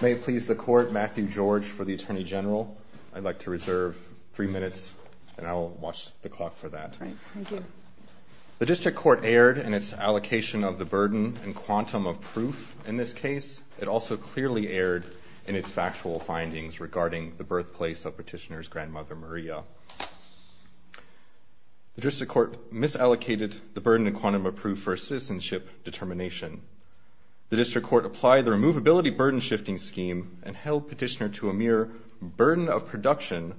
May it please the Court, Matthew George for the Attorney General. I'd like to reserve three minutes and I'll watch the clock for that. Thank you. The District Court erred in its allocation of the burden and quantum of proof in this case. It also clearly erred in its factual findings regarding the birthplace of Petitioner's grandmother Maria. The District Court misallocated the burden and quantum of proof for citizenship determination. The District Court applied the Removability Burden Shifting Scheme and held Petitioner to a mere burden of production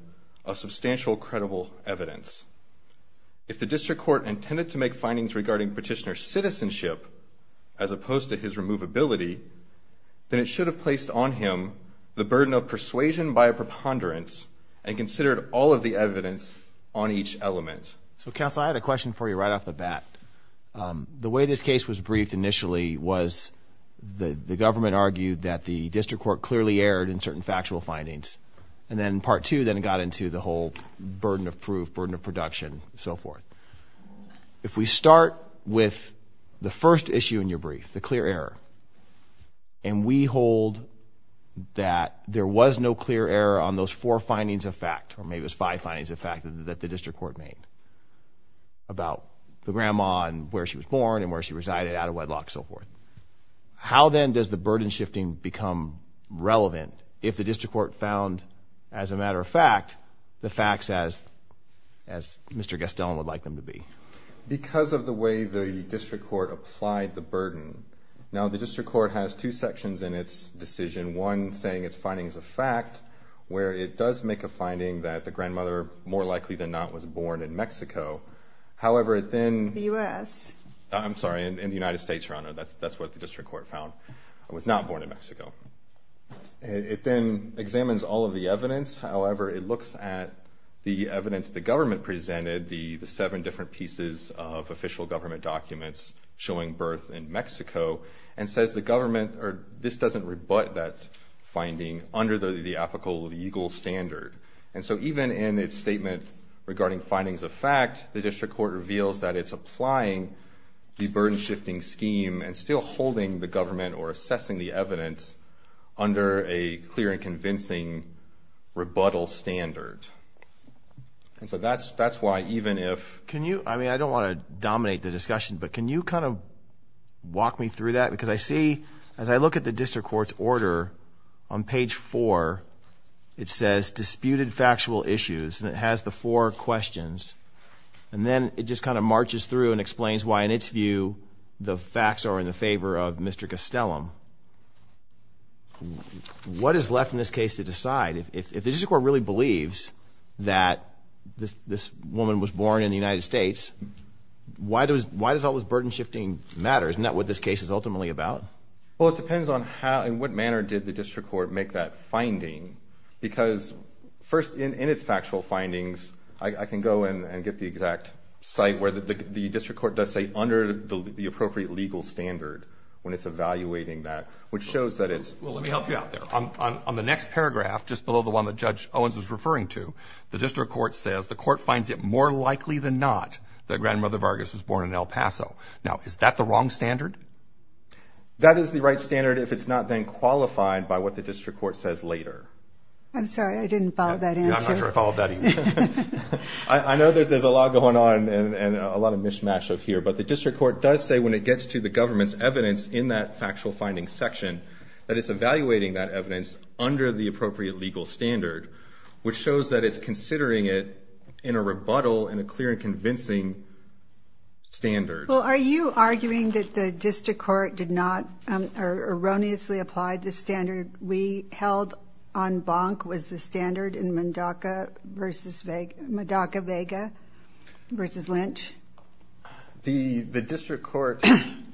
of substantial credible evidence. If the District Court intended to make findings regarding Petitioner's citizenship as opposed to his removability, then it should have placed on him the burden of persuasion by a preponderance and considered all of the evidence on each element. So counsel, I had a question for you right off the bat. The way this case was briefed initially was the government argued that the District Court clearly erred in certain factual findings and then part two then got into the whole burden of proof, burden of production, so forth. If we start with the first issue in your brief, the clear error, and we hold that there was no clear error on those four findings of fact, or maybe it was five findings of fact that the District Court made about the grandma and where she was born and where she resided out of wedlock, so forth. How then does the burden shifting become relevant if the District Court found, as a matter of fact, the facts as Mr. Gastone would like them to be? Because of the way the District Court applied the burden. Now the District Court has two sections in its decision, one saying it's findings of fact, where it does make a finding that the grandmother, more likely than not, was born in Mexico. However, it then... The US. I'm sorry, in the United States, Your Honor. That's what the District Court found, was not born in Mexico. It then examines all of the evidence. However, it looks at the evidence the government presented, the seven different pieces of official government documents showing birth in Mexico, and says the government, or this doesn't rebut that finding under the apical legal standard. And so even in its statement regarding findings of fact, the District Court reveals that it's applying the burden shifting scheme and still holding the government or assessing the evidence under a clear and convincing rebuttal standard. And so that's why even if... Can you... I mean, I don't want to dominate the discussion, but can you kind of walk me through that? Because I see, as I look at the District Court's order on page four, it says disputed factual issues, and it has the four questions. And then it just kind of marches through and explains why, in its view, the facts are in the favor of Mr. Costellum. What is left in this case to decide? If the District Court really believes that this woman was born in the United States, why does all this burden shifting matter? Isn't that what this case is ultimately about? Well, it depends on how and what manner did the District Court make that finding. Because first, in its factual findings, I can go and get the exact site where the District Court does say under the appropriate legal standard when it's evaluating that, which shows that it's... Well, let me help you out there. On the next paragraph, just below the one that Judge Owens was referring to, the District Court says the court finds it more likely than not that that is the right standard if it's not then qualified by what the District Court says later. I'm sorry. I didn't follow that answer. I'm not sure I followed that either. I know that there's a lot going on and a lot of mishmash of here. But the District Court does say when it gets to the government's evidence in that factual findings section that it's evaluating that evidence under the appropriate legal standard, which shows that it's considering it in a rebuttal and a clear and convincing standard. Are you arguing that the District Court did not or erroneously applied the standard we held en banc was the standard in Mondaca v. Vega versus Lynch? The District Court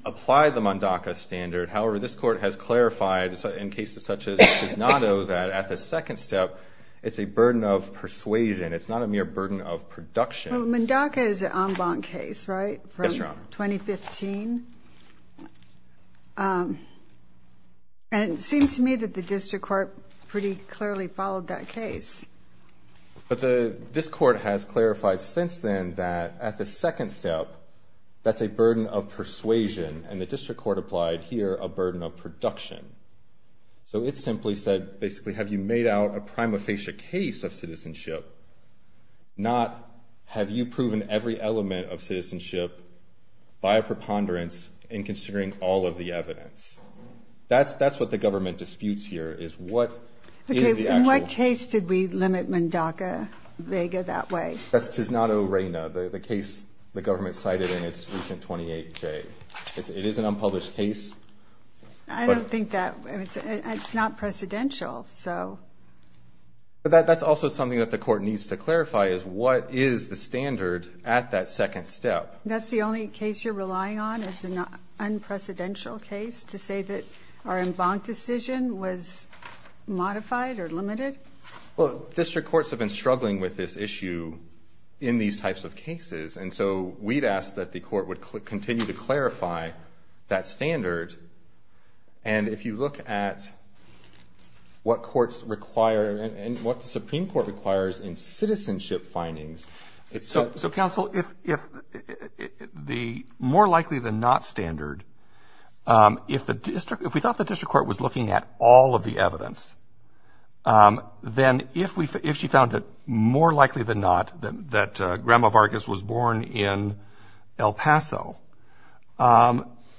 applied the Mondaca standard. However, this Court has clarified in cases such as Gisnardo that at the second step, it's a burden of persuasion. It's not a mere burden of production. Mondaca is an en banc case, right? Yes, Your Honor. From 2015. And it seems to me that the District Court pretty clearly followed that case. But this Court has clarified since then that at the second step, that's a burden of persuasion and the District Court applied here a burden of production. So it simply said, basically, have you made out a prima facie case of citizenship, not have you proven every element of by a preponderance in considering all of the evidence. That's what the government disputes here, is what is the actual... Okay, in what case did we limit Mondaca v. Vega that way? That's Gisnardo Reyna, the case the government cited in its recent 28J. It is an unpublished case, but... I don't think that... It's not precedential, so... But that's also something that the Court needs to clarify, is what is the standard at that second step? That's the only case you're relying on as an unprecedented case, to say that our en banc decision was modified or limited? Well, District Courts have been struggling with this issue in these types of cases. And so we'd ask that the Court would continue to clarify that standard. And if you look at what courts require and what the Supreme Court requires in citizenship findings, it's... So, Counsel, if the more likely than not standard, if we thought the District Court was looking at all of the evidence, then if she found it more likely than not that Grandma Vargas was born in El Paso,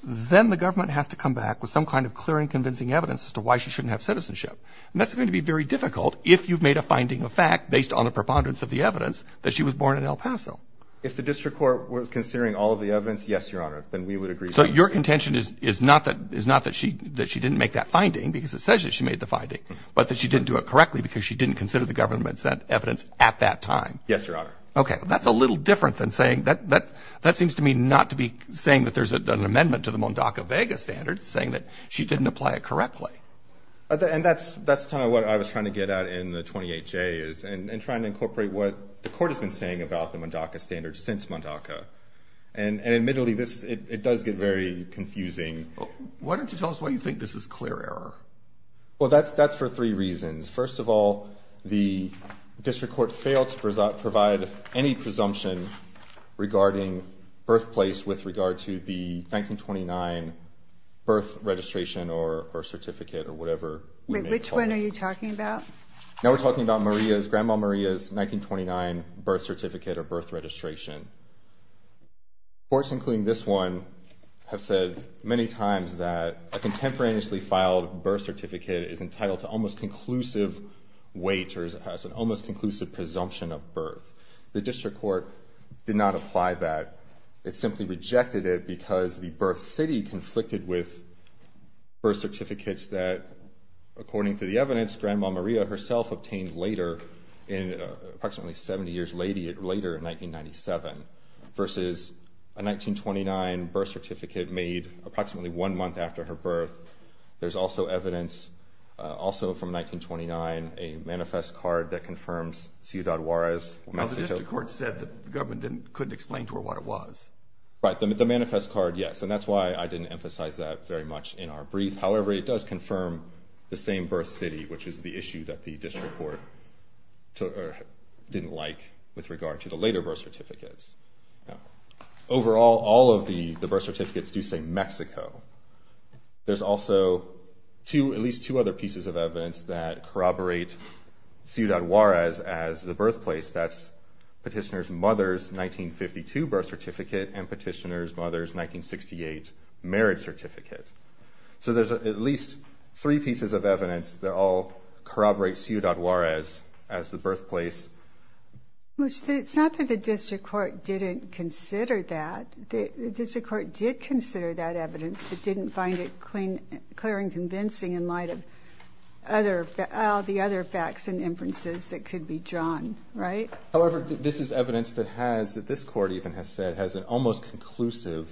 then the government has to come back with some kind of clear and convincing evidence as to why she shouldn't have citizenship. And that's going to be very difficult if you've made a finding of fact based on a preponderance of the evidence that she was born in El Paso. If the District Court was considering all of the evidence, yes, Your Honor, then we would agree... So your contention is not that she didn't make that finding because it says that she made the finding, but that she didn't do it correctly because she didn't consider the government sent evidence at that time? Yes, Your Honor. Okay. That's a little different than saying... That seems to me not to be saying that there's an amendment to the Mondaca-Vega standard, saying that she didn't apply it correctly. And that's kind of what I was trying to get at in the 28J, is in trying to incorporate what the court has been saying about the Mondaca standard since Mondaca. And admittedly, it does get very confusing. Why don't you tell us why you think this is clear error? Well, that's for three reasons. First of all, the District Court failed to provide any presumption regarding birthplace with regard to the 1929 birth registration or certificate or whatever we may call it. Wait, which one are you talking about? Now we're talking about Maria's, Grandma Maria's 1929 birth certificate or birth registration. Courts, including this one, have said many times that a contemporaneously filed birth certificate is entitled to almost conclusive weight, or it's an almost conclusive presumption of birth. The District Court did not apply that. It simply rejected it because the birth city conflicted with birth certificates that, according to the evidence, Grandma Maria herself obtained later, approximately 70 years later in 1997, versus a 1929 birth certificate made approximately one month after her birth. There's also evidence, also from 1929, a manifest card that confirms Ciudad Juarez. Now the District Court said that the government couldn't explain to her what it was. Right, the manifest card, yes, and that's why I didn't emphasize that very much in our brief. However, it does confirm the same birth city, which is the issue that the District Court didn't like with regard to the later birth certificates. Overall, all of the birth certificates do say Mexico. There's also at least two other pieces of evidence that corroborate Ciudad Juarez as the birthplace. That's Petitioner's mother's 1952 birth certificate and Petitioner's mother's 1968 marriage certificate. So there's at least three pieces of evidence that all corroborate Ciudad Juarez as the birthplace. It's not that the District Court didn't consider that. The District Court did consider that evidence, but didn't find it clear and convincing in light of the other facts and inferences that could be drawn. Right? However, this is evidence that this Court even has said has an almost conclusive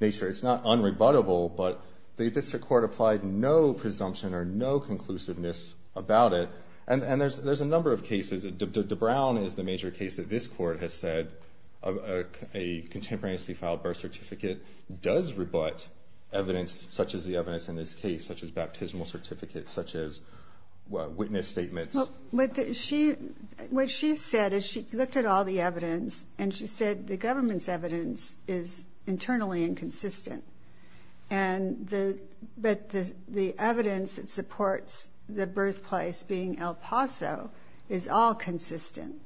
nature. It's not unrebuttable, but the District Court applied no presumption or no conclusiveness about it. And there's a number of cases. DeBrown is the major case that this Court has said a contemporaneously filed birth certificate does rebut evidence such as the evidence in this case, such as baptismal certificates, such as witness statements. What she said is she looked at all the evidence and she said the government's evidence is internally inconsistent. And the evidence that supports the birthplace being El Paso is all consistent.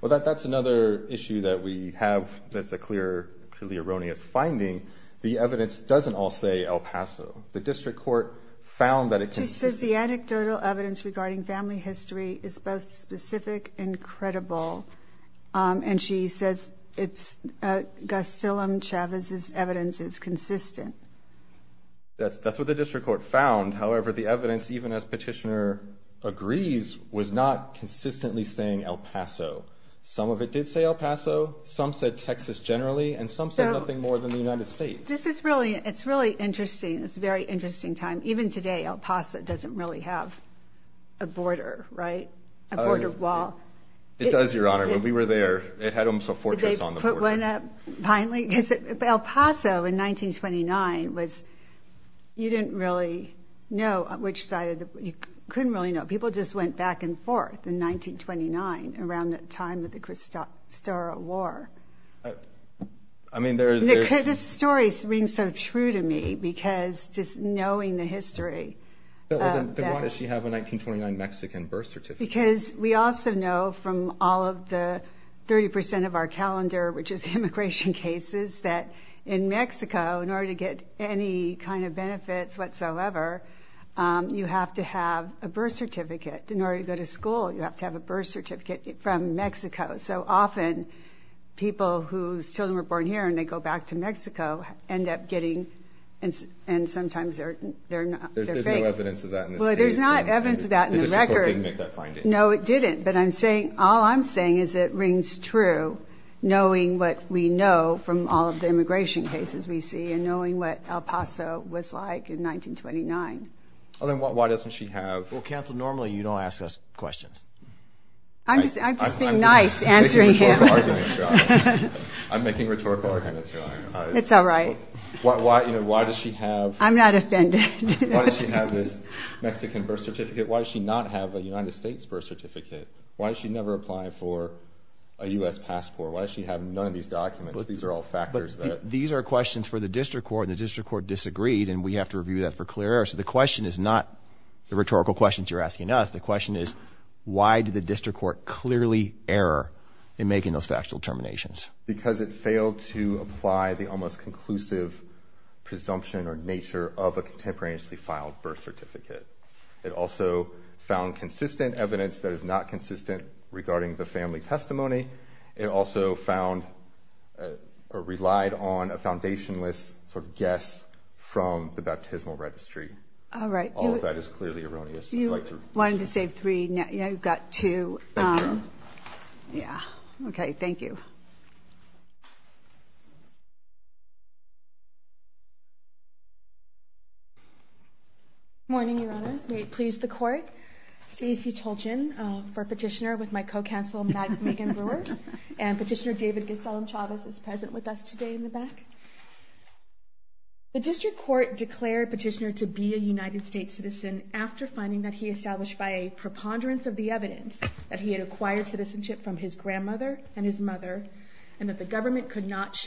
Well, that's another issue that we have. That's a clear, clearly erroneous finding. The evidence doesn't all say El Paso. The District Court found that it can... She says the anecdotal evidence regarding family history is both specific and credible. And she says it's Gustillum-Chavez's evidence is consistent. That's what the District Court found. However, the evidence, even as Petitioner agrees, was not consistently saying El Paso. Some of it did say El Paso. Some said Texas generally. And some said nothing more than the United States. This is really... It's really interesting. It's a very interesting time. Even today, El Paso doesn't really have a border, right? A border wall. It does, Your Honor. When we were there, it had a fortress on the border. Finally, El Paso in 1929 was... You didn't really know which side of the... You couldn't really know. People just went back and forth in 1929, around the time of the Cristóbal War. I mean, there's... This story rings so true to me, because just knowing the history... Then why does she have a 1929 Mexican birth certificate? Because we also know from all of the 30% of our calendar, which is immigration cases, that in Mexico, in order to get any kind of benefits whatsoever, you have to have a birth certificate. In order to go to school, you have to have a birth certificate from Mexico. So often, people whose children were born here and they go back to Mexico end up getting... And sometimes they're fake. There's no evidence of that in the state. There's not evidence of that in the record. Mexico didn't make that finding. No, it didn't. But I'm saying... All I'm saying is it rings true, knowing what we know from all of the immigration cases we see, and knowing what El Paso was like in 1929. Oh, then why doesn't she have... Well, Council, normally, you don't ask us questions. I'm just being nice, answering him. I'm making rhetorical arguments here. It's all right. Why does she have... I'm not offended. Why does she have this Mexican birth certificate? Why does she not have a United States birth certificate? Why does she never apply for a U.S. passport? Why does she have none of these documents? These are all factors that... These are questions for the district court, and the district court disagreed, and we have to review that for clear error. So the question is not the rhetorical questions you're asking us. The question is, why did the district court clearly error in making those factual determinations? Because it failed to apply the almost conclusive presumption or nature of a contemporaneously filed birth certificate. It also found consistent evidence that is not consistent regarding the family testimony. It also found or relied on a foundationless sort of guess from the baptismal registry. All right. All of that is clearly erroneous. You wanted to save three. Now you've got two. Yeah. Okay. Thank you. Good morning, Your Honors. May it please the court. Stacy Tolchin for petitioner with my co-counsel, Megan Brewer. And petitioner David Gestalt-Chavez is present with us today in the back. The district court declared petitioner to be a United States citizen after finding that he established by a preponderance of the evidence that he had acquired citizenship from his and that the government could not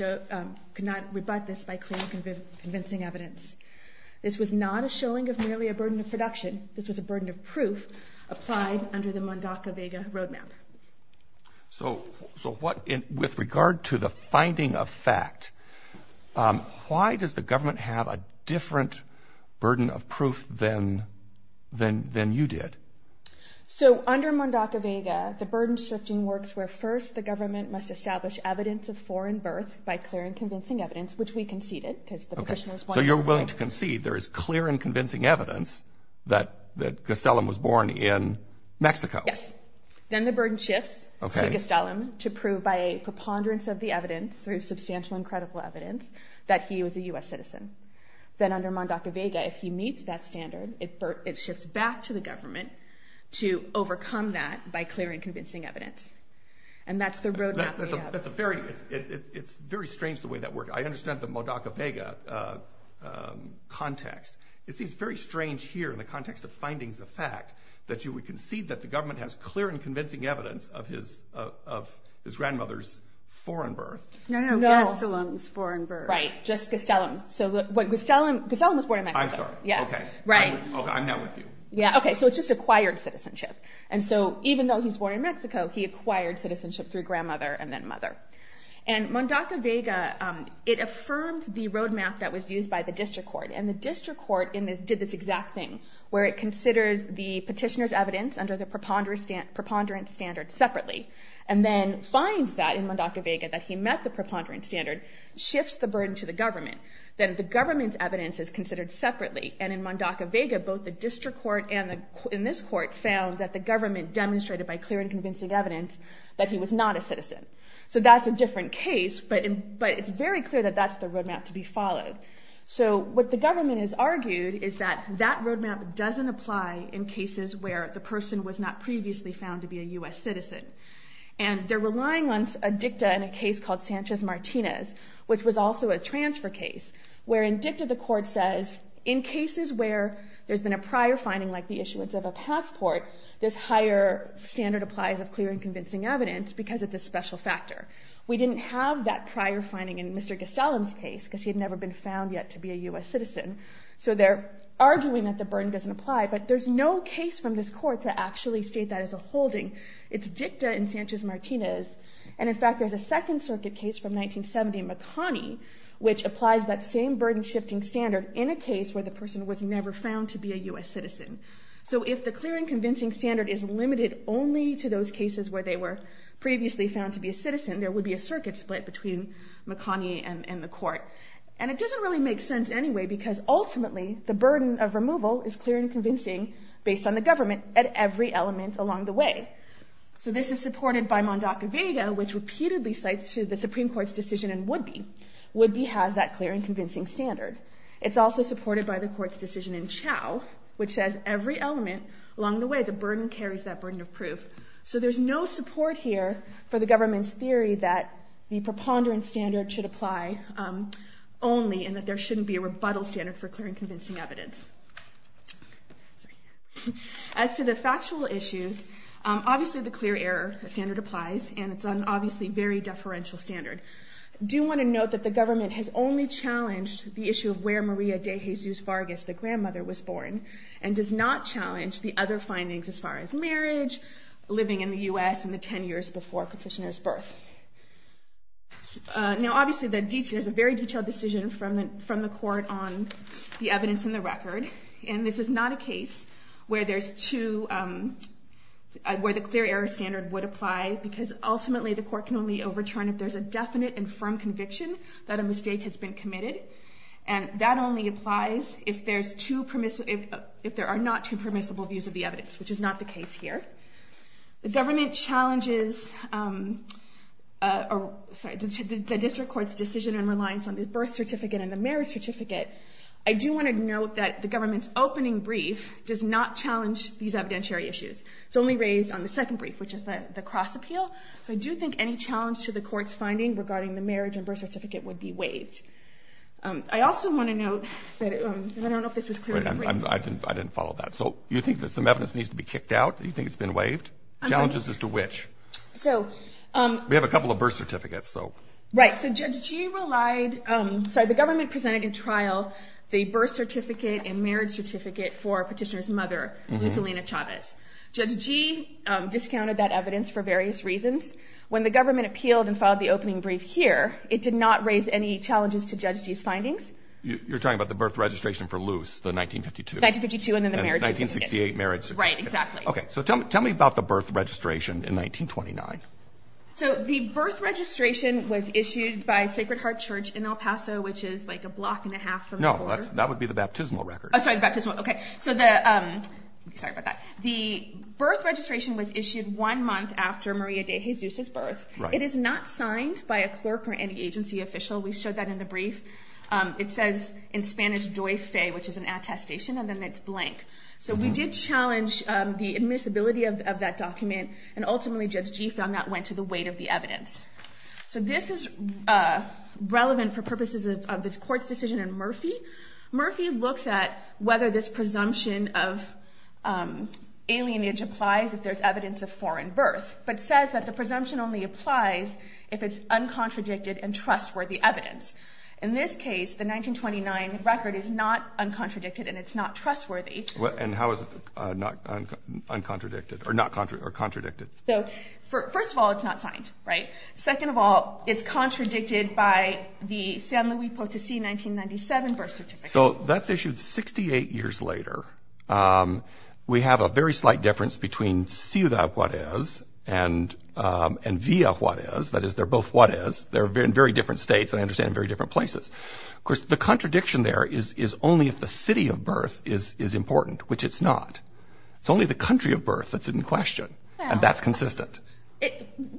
rebut this by clear and convincing evidence. This was not a showing of merely a burden of production. This was a burden of proof applied under the Mondaca-Vega roadmap. So with regard to the finding of fact, why does the government have a different burden of proof than you did? So under Mondaca-Vega, the burden shifting works where first the government must establish evidence of foreign birth by clear and convincing evidence, which we conceded. Okay. So you're willing to concede there is clear and convincing evidence that Gastelum was born in Mexico. Yes. Then the burden shifts to Gastelum to prove by a preponderance of the evidence through substantial and credible evidence that he was a U.S. citizen. Then under Mondaca-Vega, if he meets that standard, it shifts back to the government to overcome that by clear and convincing evidence. And that's the roadmap we have. It's very strange the way that worked. I understand the Mondaca-Vega context. It seems very strange here in the context of findings of fact that you would concede that the government has clear and convincing evidence of his grandmother's foreign birth. No, no, Gastelum's foreign birth. Right. Just Gastelum. So Gastelum was born in Mexico. I'm sorry. Yeah. Okay. Right. I'm not with you. Yeah. Okay. So it's just acquired citizenship. And so even though he's born in Mexico, he acquired citizenship through grandmother and then mother. And Mondaca-Vega, it affirmed the roadmap that was used by the district court. And the district court did this exact thing where it considers the petitioner's evidence under the preponderance standard separately and then finds that in Mondaca-Vega that he met the preponderance standard, shifts the burden to the government. Then the government's evidence is considered separately. And in Mondaca-Vega, both the district court and in this court found that the government demonstrated by clear and convincing evidence that he was not a citizen. So that's a different case, but it's very clear that that's the roadmap to be followed. So what the government has argued is that that roadmap doesn't apply in cases where the person was not previously found to be a US citizen. And they're relying on a dicta in a case called Sanchez-Martinez, which was also a transfer case, where in dicta the court says, in cases where there's been a prior finding like the issuance of a passport, this higher standard applies of clear and convincing evidence because it's a special factor. We didn't have that prior finding in Mr. Gastelum's case, because he had never been found yet to be a US citizen. So they're arguing that the burden doesn't apply, but there's no case from this court to actually state that as a holding. It's dicta in Sanchez-Martinez. And in fact, there's a Second Circuit case from 1970 in Makani, which applies that same burden-shifting standard in a case where the person was never found to be a US citizen. So if the clear and convincing standard is limited only to those cases where they were previously found to be a citizen, there would be a circuit split between Makani and the court. And it doesn't really make sense anyway, because ultimately, the burden of removal is clear and convincing based on the government at every element along the way. So this is supported by Mondaca-Vega, which repeatedly cites to the Supreme Court's decision in Woodby. Woodby has that clear and convincing standard. It's also supported by the court's decision in Chao, which says every element along the way, the burden carries that burden of proof. So there's no support here for the government's theory that the preponderance standard should apply only and that there shouldn't be a rebuttal standard for clear and convincing evidence. As to the factual issues, obviously, the clear error standard applies, and it's an obviously very deferential standard. I do want to note that the government has only challenged the issue of where Maria de Jesus Vargas, the grandmother, was born, and does not challenge the other findings as far as marriage, living in the US, and the 10 years before petitioner's birth. Now, obviously, there's a very detailed decision from the court on the evidence in the record. And this is not a case where the clear error standard would apply, because ultimately, the court can only overturn if there's a definite and firm conviction that a mistake has been committed. And that only applies if there are not two permissible views of the evidence, which is not the case here. The government challenges the district court's decision and reliance on the birth certificate and the marriage certificate. I do want to note that the government's opening brief does not challenge these evidentiary issues. It's only raised on the second brief, which is the cross appeal. So I do think any challenge to the court's finding regarding the marriage and birth certificate would be waived. I also want to note that I don't know if this was clear in the brief. I didn't follow that. So you think that some evidence needs to be kicked out? Do you think it's been waived? Challenges as to which? We have a couple of birth certificates, so. Right. So Judge Gee relied, sorry, the government presented in trial the birth certificate and marriage certificate for petitioner's mother, Lusalina Chavez. Judge Gee discounted that evidence for various reasons. When the government appealed and filed the opening brief here, it did not challenges to Judge Gee's findings. You're talking about the birth registration for Luz, the 1952. 1952 and then the marriage certificate. 1968 marriage certificate. Right, exactly. Okay. So tell me about the birth registration in 1929. So the birth registration was issued by Sacred Heart Church in El Paso, which is like a block and a half from the border. No, that would be the baptismal record. Oh, sorry, the baptismal. Okay. So the, sorry about that. The birth registration was issued one month after Maria de Jesus' birth. It is not signed by a clerk or any agency official. We showed that in the brief. It says in Spanish, doy fe, which is an attestation and then it's blank. So we did challenge the admissibility of that document and ultimately Judge Gee found that went to the weight of the evidence. So this is relevant for purposes of this court's decision in Murphy. Murphy looks at whether this presumption of alienage applies if there's evidence of foreign birth, but says that the presumption only applies if it's evidence. In this case, the 1929 record is not uncontradicted and it's not trustworthy. And how is it not uncontradicted or not, or contradicted? So first of all, it's not signed, right? Second of all, it's contradicted by the San Luis Potosi 1997 birth certificate. So that's issued 68 years later. We have a very slight difference between ciudad Juarez and Villa Juarez. That is, they're both Juarez. They're in very different states and I understand in very different places. Of course, the contradiction there is only if the city of birth is important, which it's not. It's only the country of birth that's in question and that's consistent.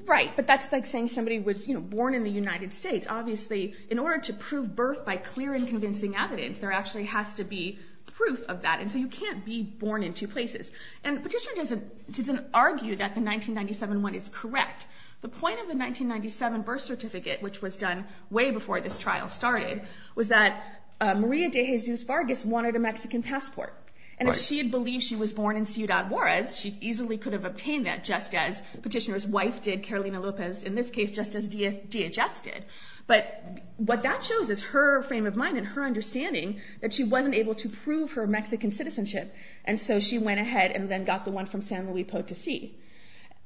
Right. But that's like saying somebody was born in the United States. Obviously, in order to prove birth by clear and convincing evidence, there actually has to be proof of that. And so you can't be born in two places. And Petitioner doesn't argue that the 1997 one is correct. The point of the 1997 birth certificate, which was done way before this trial started, was that Maria de Jesus Vargas wanted a Mexican passport. And if she had believed she was born in ciudad Juarez, she easily could have obtained that just as Petitioner's wife did, Carolina Lopez, in this case, just as DHS did. But what that shows is her frame of mind and her understanding that she wasn't able to prove her Mexican citizenship. And so she went ahead and then got the one from San Luis Potosi.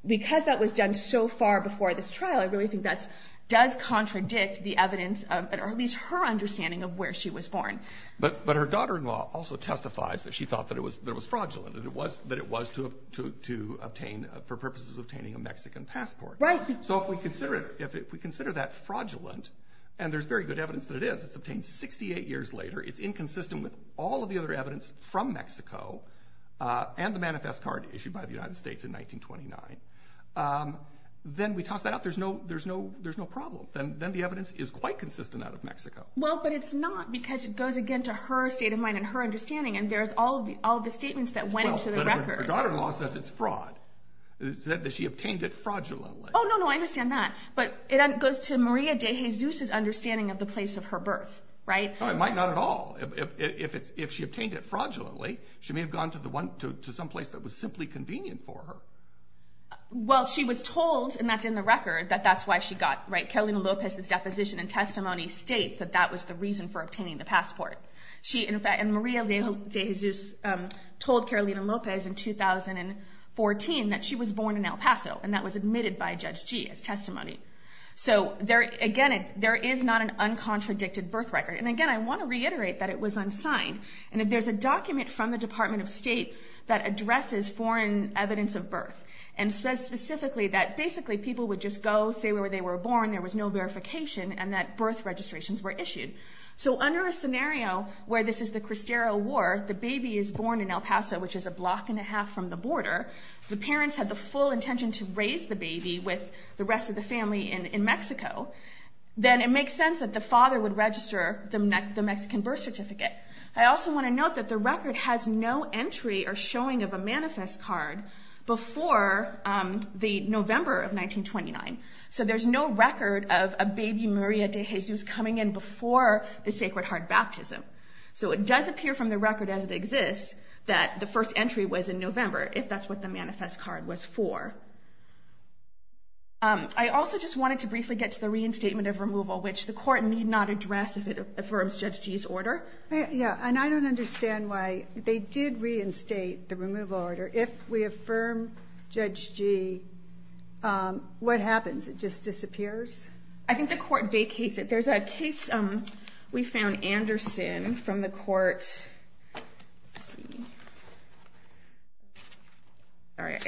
Because that was done so far before this trial, I really think that does contradict the evidence of at least her understanding of where she was born. But her daughter-in-law also testifies that she thought that it was fraudulent, that it was for purposes of obtaining a Mexican passport. Right. So if we consider that fraudulent, and there's very good evidence that it is, it's obtained 68 years later. It's inconsistent with all of the other evidence from Mexico and the manifest card issued by the United States in 1929. Then we toss that out. There's no problem. Then the evidence is quite consistent out of Mexico. Well, but it's not, because it goes again to her state of mind and her understanding. And there's all of the statements that went into the record. But her daughter-in-law says it's fraud, that she obtained it fraudulently. Oh, no, no, I understand that. But it goes to Maria de Jesus's understanding of the place of her birth, right? Oh, it might not at all. If she obtained it fraudulently, she may have gone to some place that was simply convenient for her. Well, she was told, and that's in the record, that that's why she got, right, Carolina Lopez's deposition and testimony states that that was the reason for obtaining the passport. And Maria de Jesus told Carolina Lopez in 2014 that she was born in El Paso, and that was admitted by Judge Gee as testimony. So again, there is not an uncontradicted birth record. And again, I want to reiterate that it was unsigned, and that there's a document from the Department of State that addresses foreign evidence of birth, and says specifically that basically people would just go, say where they were born, there was no verification, and that birth registrations were issued. So under a scenario where this is the Cristero War, the baby is born in El Paso, which is a block and a half from the border. The parents had the full intention to raise the baby with the rest of the family in Mexico. Then it makes sense that the father would register the Mexican birth certificate. I also want to note that the record has no entry or showing of a manifest card before the November of 1929. So there's no record of a baby Maria de Jesus coming in before the Sacred Heart Baptism. So it does appear from the record as it exists that the first entry was in November, if that's what the manifest card was for. I also just wanted to briefly get to the reinstatement of removal, which the court need not address if it affirms Judge Gee's order. Yeah, and I don't understand why they did reinstate the removal order. If we affirm Judge Gee, what happens? It just disappears? I think the court vacates it. There's a case we found, Anderson, from the court. Let's see. All right,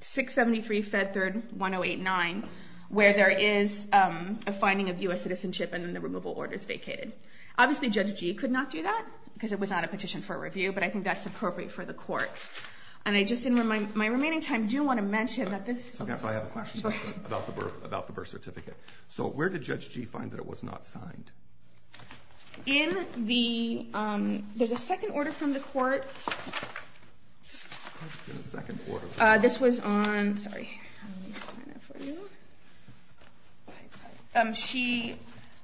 673 Fed Third 1089, where there is a finding of U.S. citizenship, and then the removal order is vacated. Obviously, Judge Gee could not do that, because it was not a petition for review. But I think that's appropriate for the court. And I just in my remaining time do want to mention that this- I guess I have a question about the birth certificate. So where did Judge Gee find that it was not signed? In the- there's a second order from the court. What's in the second order? This was on- sorry, let me just find that for you. She-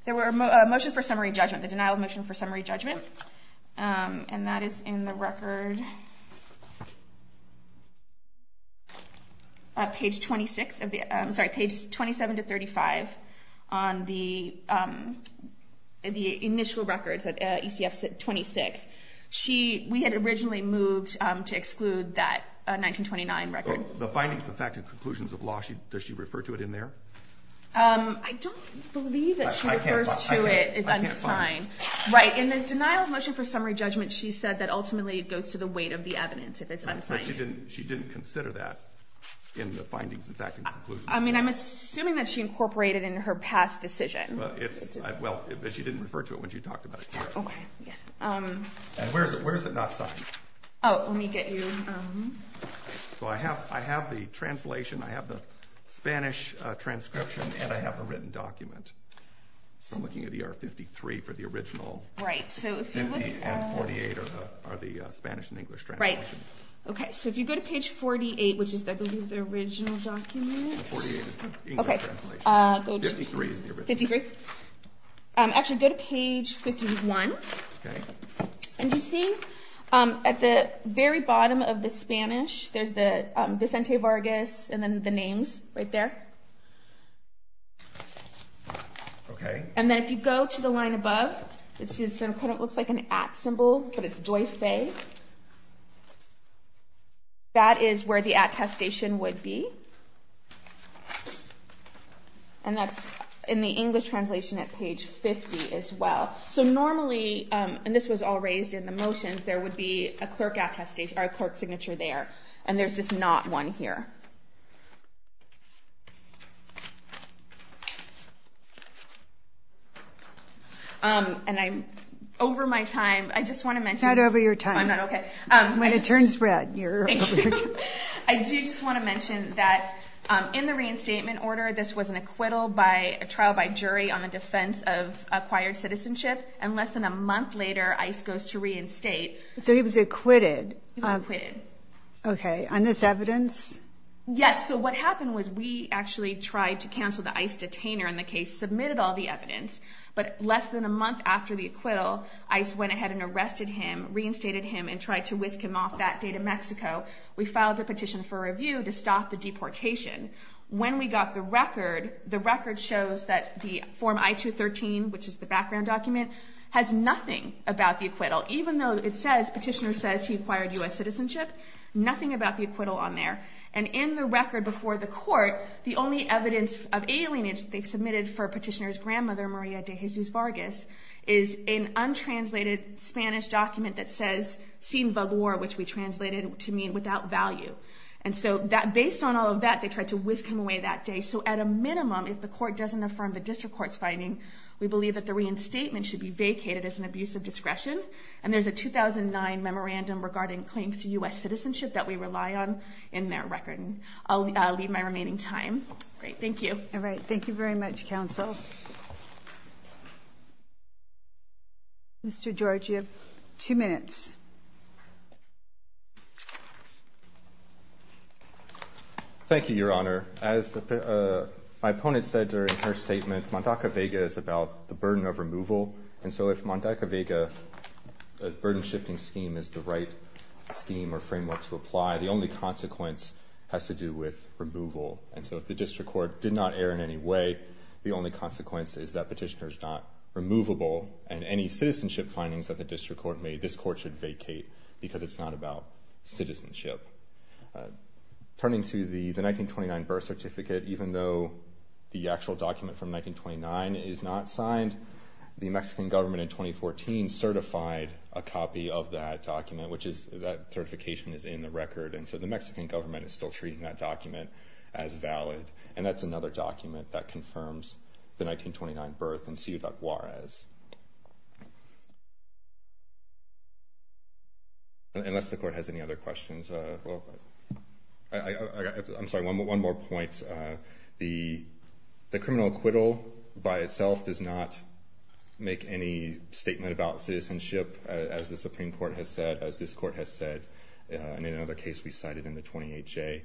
there were a motion for summary judgment, the denial of motion for summary judgment. And that is in the record, page 26 of the- sorry, page 27 to 35 on the initial records at ECF 26. We had originally moved to exclude that 1929 record. The findings, the fact, and conclusions of law, does she refer to it in there? I don't believe that she refers to it as unsigned. Right. In the denial of motion for summary judgment, she said that ultimately it goes to the weight of the evidence if it's unsigned. But she didn't consider that in the findings, the fact, and conclusions? I mean, I'm assuming that she incorporated it in her past decision. Well, it's- well, but she didn't refer to it when she talked about it here. Okay, yes. And where is it not signed? Oh, let me get you- So I have the translation, I have the Spanish transcription, and I have the written document. So I'm looking at the R53 for the original. Right, so if you look- And 48 are the Spanish and English translations. Right. Okay, so if you go to page 48, which is, I believe, the original document. The 48 is the English translation. Okay, go to- 53 is the original. 53. Actually, go to page 51. Okay. And you see at the very bottom of the Spanish, there's the Vicente Vargas and then the names right there. Okay. And then if you go to the line above, this is- it kind of looks like an at symbol, but it's Doyfe. That is where the attestation would be. And that's in the English translation at page 50 as well. So normally, and this was all raised in the motions, there would be a clerk signature there. And there's just not one here. And I'm over my time. I just want to mention- Not over your time. Oh, I'm not, okay. When it turns red, you're over your time. Thank you. I do just want to mention that in the reinstatement order, this was an acquittal by a trial by jury on the defense of acquired citizenship. And less than a month later, ICE goes to reinstate. He was acquitted. Okay, on this evidence? Yes. Okay. Yes. So what happened was we actually tried to cancel the ICE detainer in the case, submitted all the evidence. But less than a month after the acquittal, ICE went ahead and arrested him, reinstated him, and tried to whisk him off that day to Mexico. We filed a petition for review to stop the deportation. When we got the record, the record shows that the form I-213, which is the background document, has nothing about the acquittal. Even though it says, petitioner says he acquired US citizenship, nothing about the acquittal on there. And in the record before the court, the only evidence of alienation they submitted for petitioner's grandmother, Maria de Jesus Vargas, is an untranslated Spanish document that says, sin valor, which we translated to mean without value. And so based on all of that, they tried to whisk him away that day. So at a minimum, if the court doesn't affirm the district court's finding, we believe that the reinstatement should be vacated as an abuse of discretion. And there's a 2009 memorandum regarding claims to US citizenship that we rely on in that record. I'll leave my remaining time. Great. Thank you. All right. Thank you very much, counsel. Mr. George, you have two minutes. Thank you, Your Honor. As my opponent said during her statement, Mandaca-Vega is about the burden of removal. And so if Mandaca-Vega's burden shifting scheme is the right scheme or framework to has to do with removal. And so if the district court did not err in any way, the only consequence is that petitioner's not removable. And any citizenship findings that the district court made, this court should vacate because it's not about citizenship. Turning to the 1929 birth certificate, even though the actual document from 1929 is not signed, the Mexican government in 2014 certified a copy of that document, which is that certification is in the record. And so the Mexican government is still treating that document as valid. And that's another document that confirms the 1929 birth in Ciudad Juarez. Unless the court has any other questions. I'm sorry, one more point. The criminal acquittal by itself does not make any statement about citizenship, as the Supreme Court has said, as this court has said. And in another case we cited in the 28-J,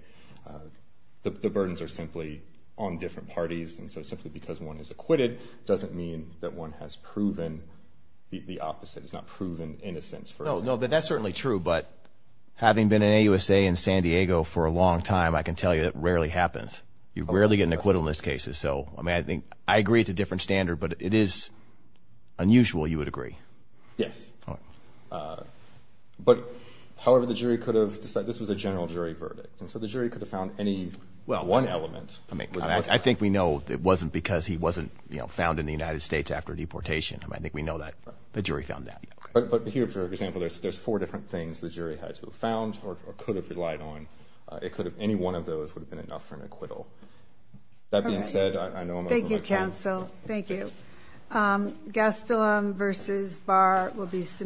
the burdens are simply on different parties. And so simply because one is acquitted doesn't mean that one has proven the opposite. It's not proven innocence, for example. No, that's certainly true. But having been an AUSA in San Diego for a long time, I can tell you that rarely happens. You rarely get an acquittal in these cases. So I mean, I think I agree it's a different standard, but it is unusual, you would agree. Yes. All right. But however, the jury could have decided, this was a general jury verdict. And so the jury could have found any one element. I think we know it wasn't because he wasn't found in the United States after deportation. I think we know that the jury found that. But here, for example, there's four different things the jury had to have found or could have relied on. It could have, any one of those would have been enough for an acquittal. That being said, I know I'm over my time. Thank you, counsel. Thank you. Gastelum versus Barr will be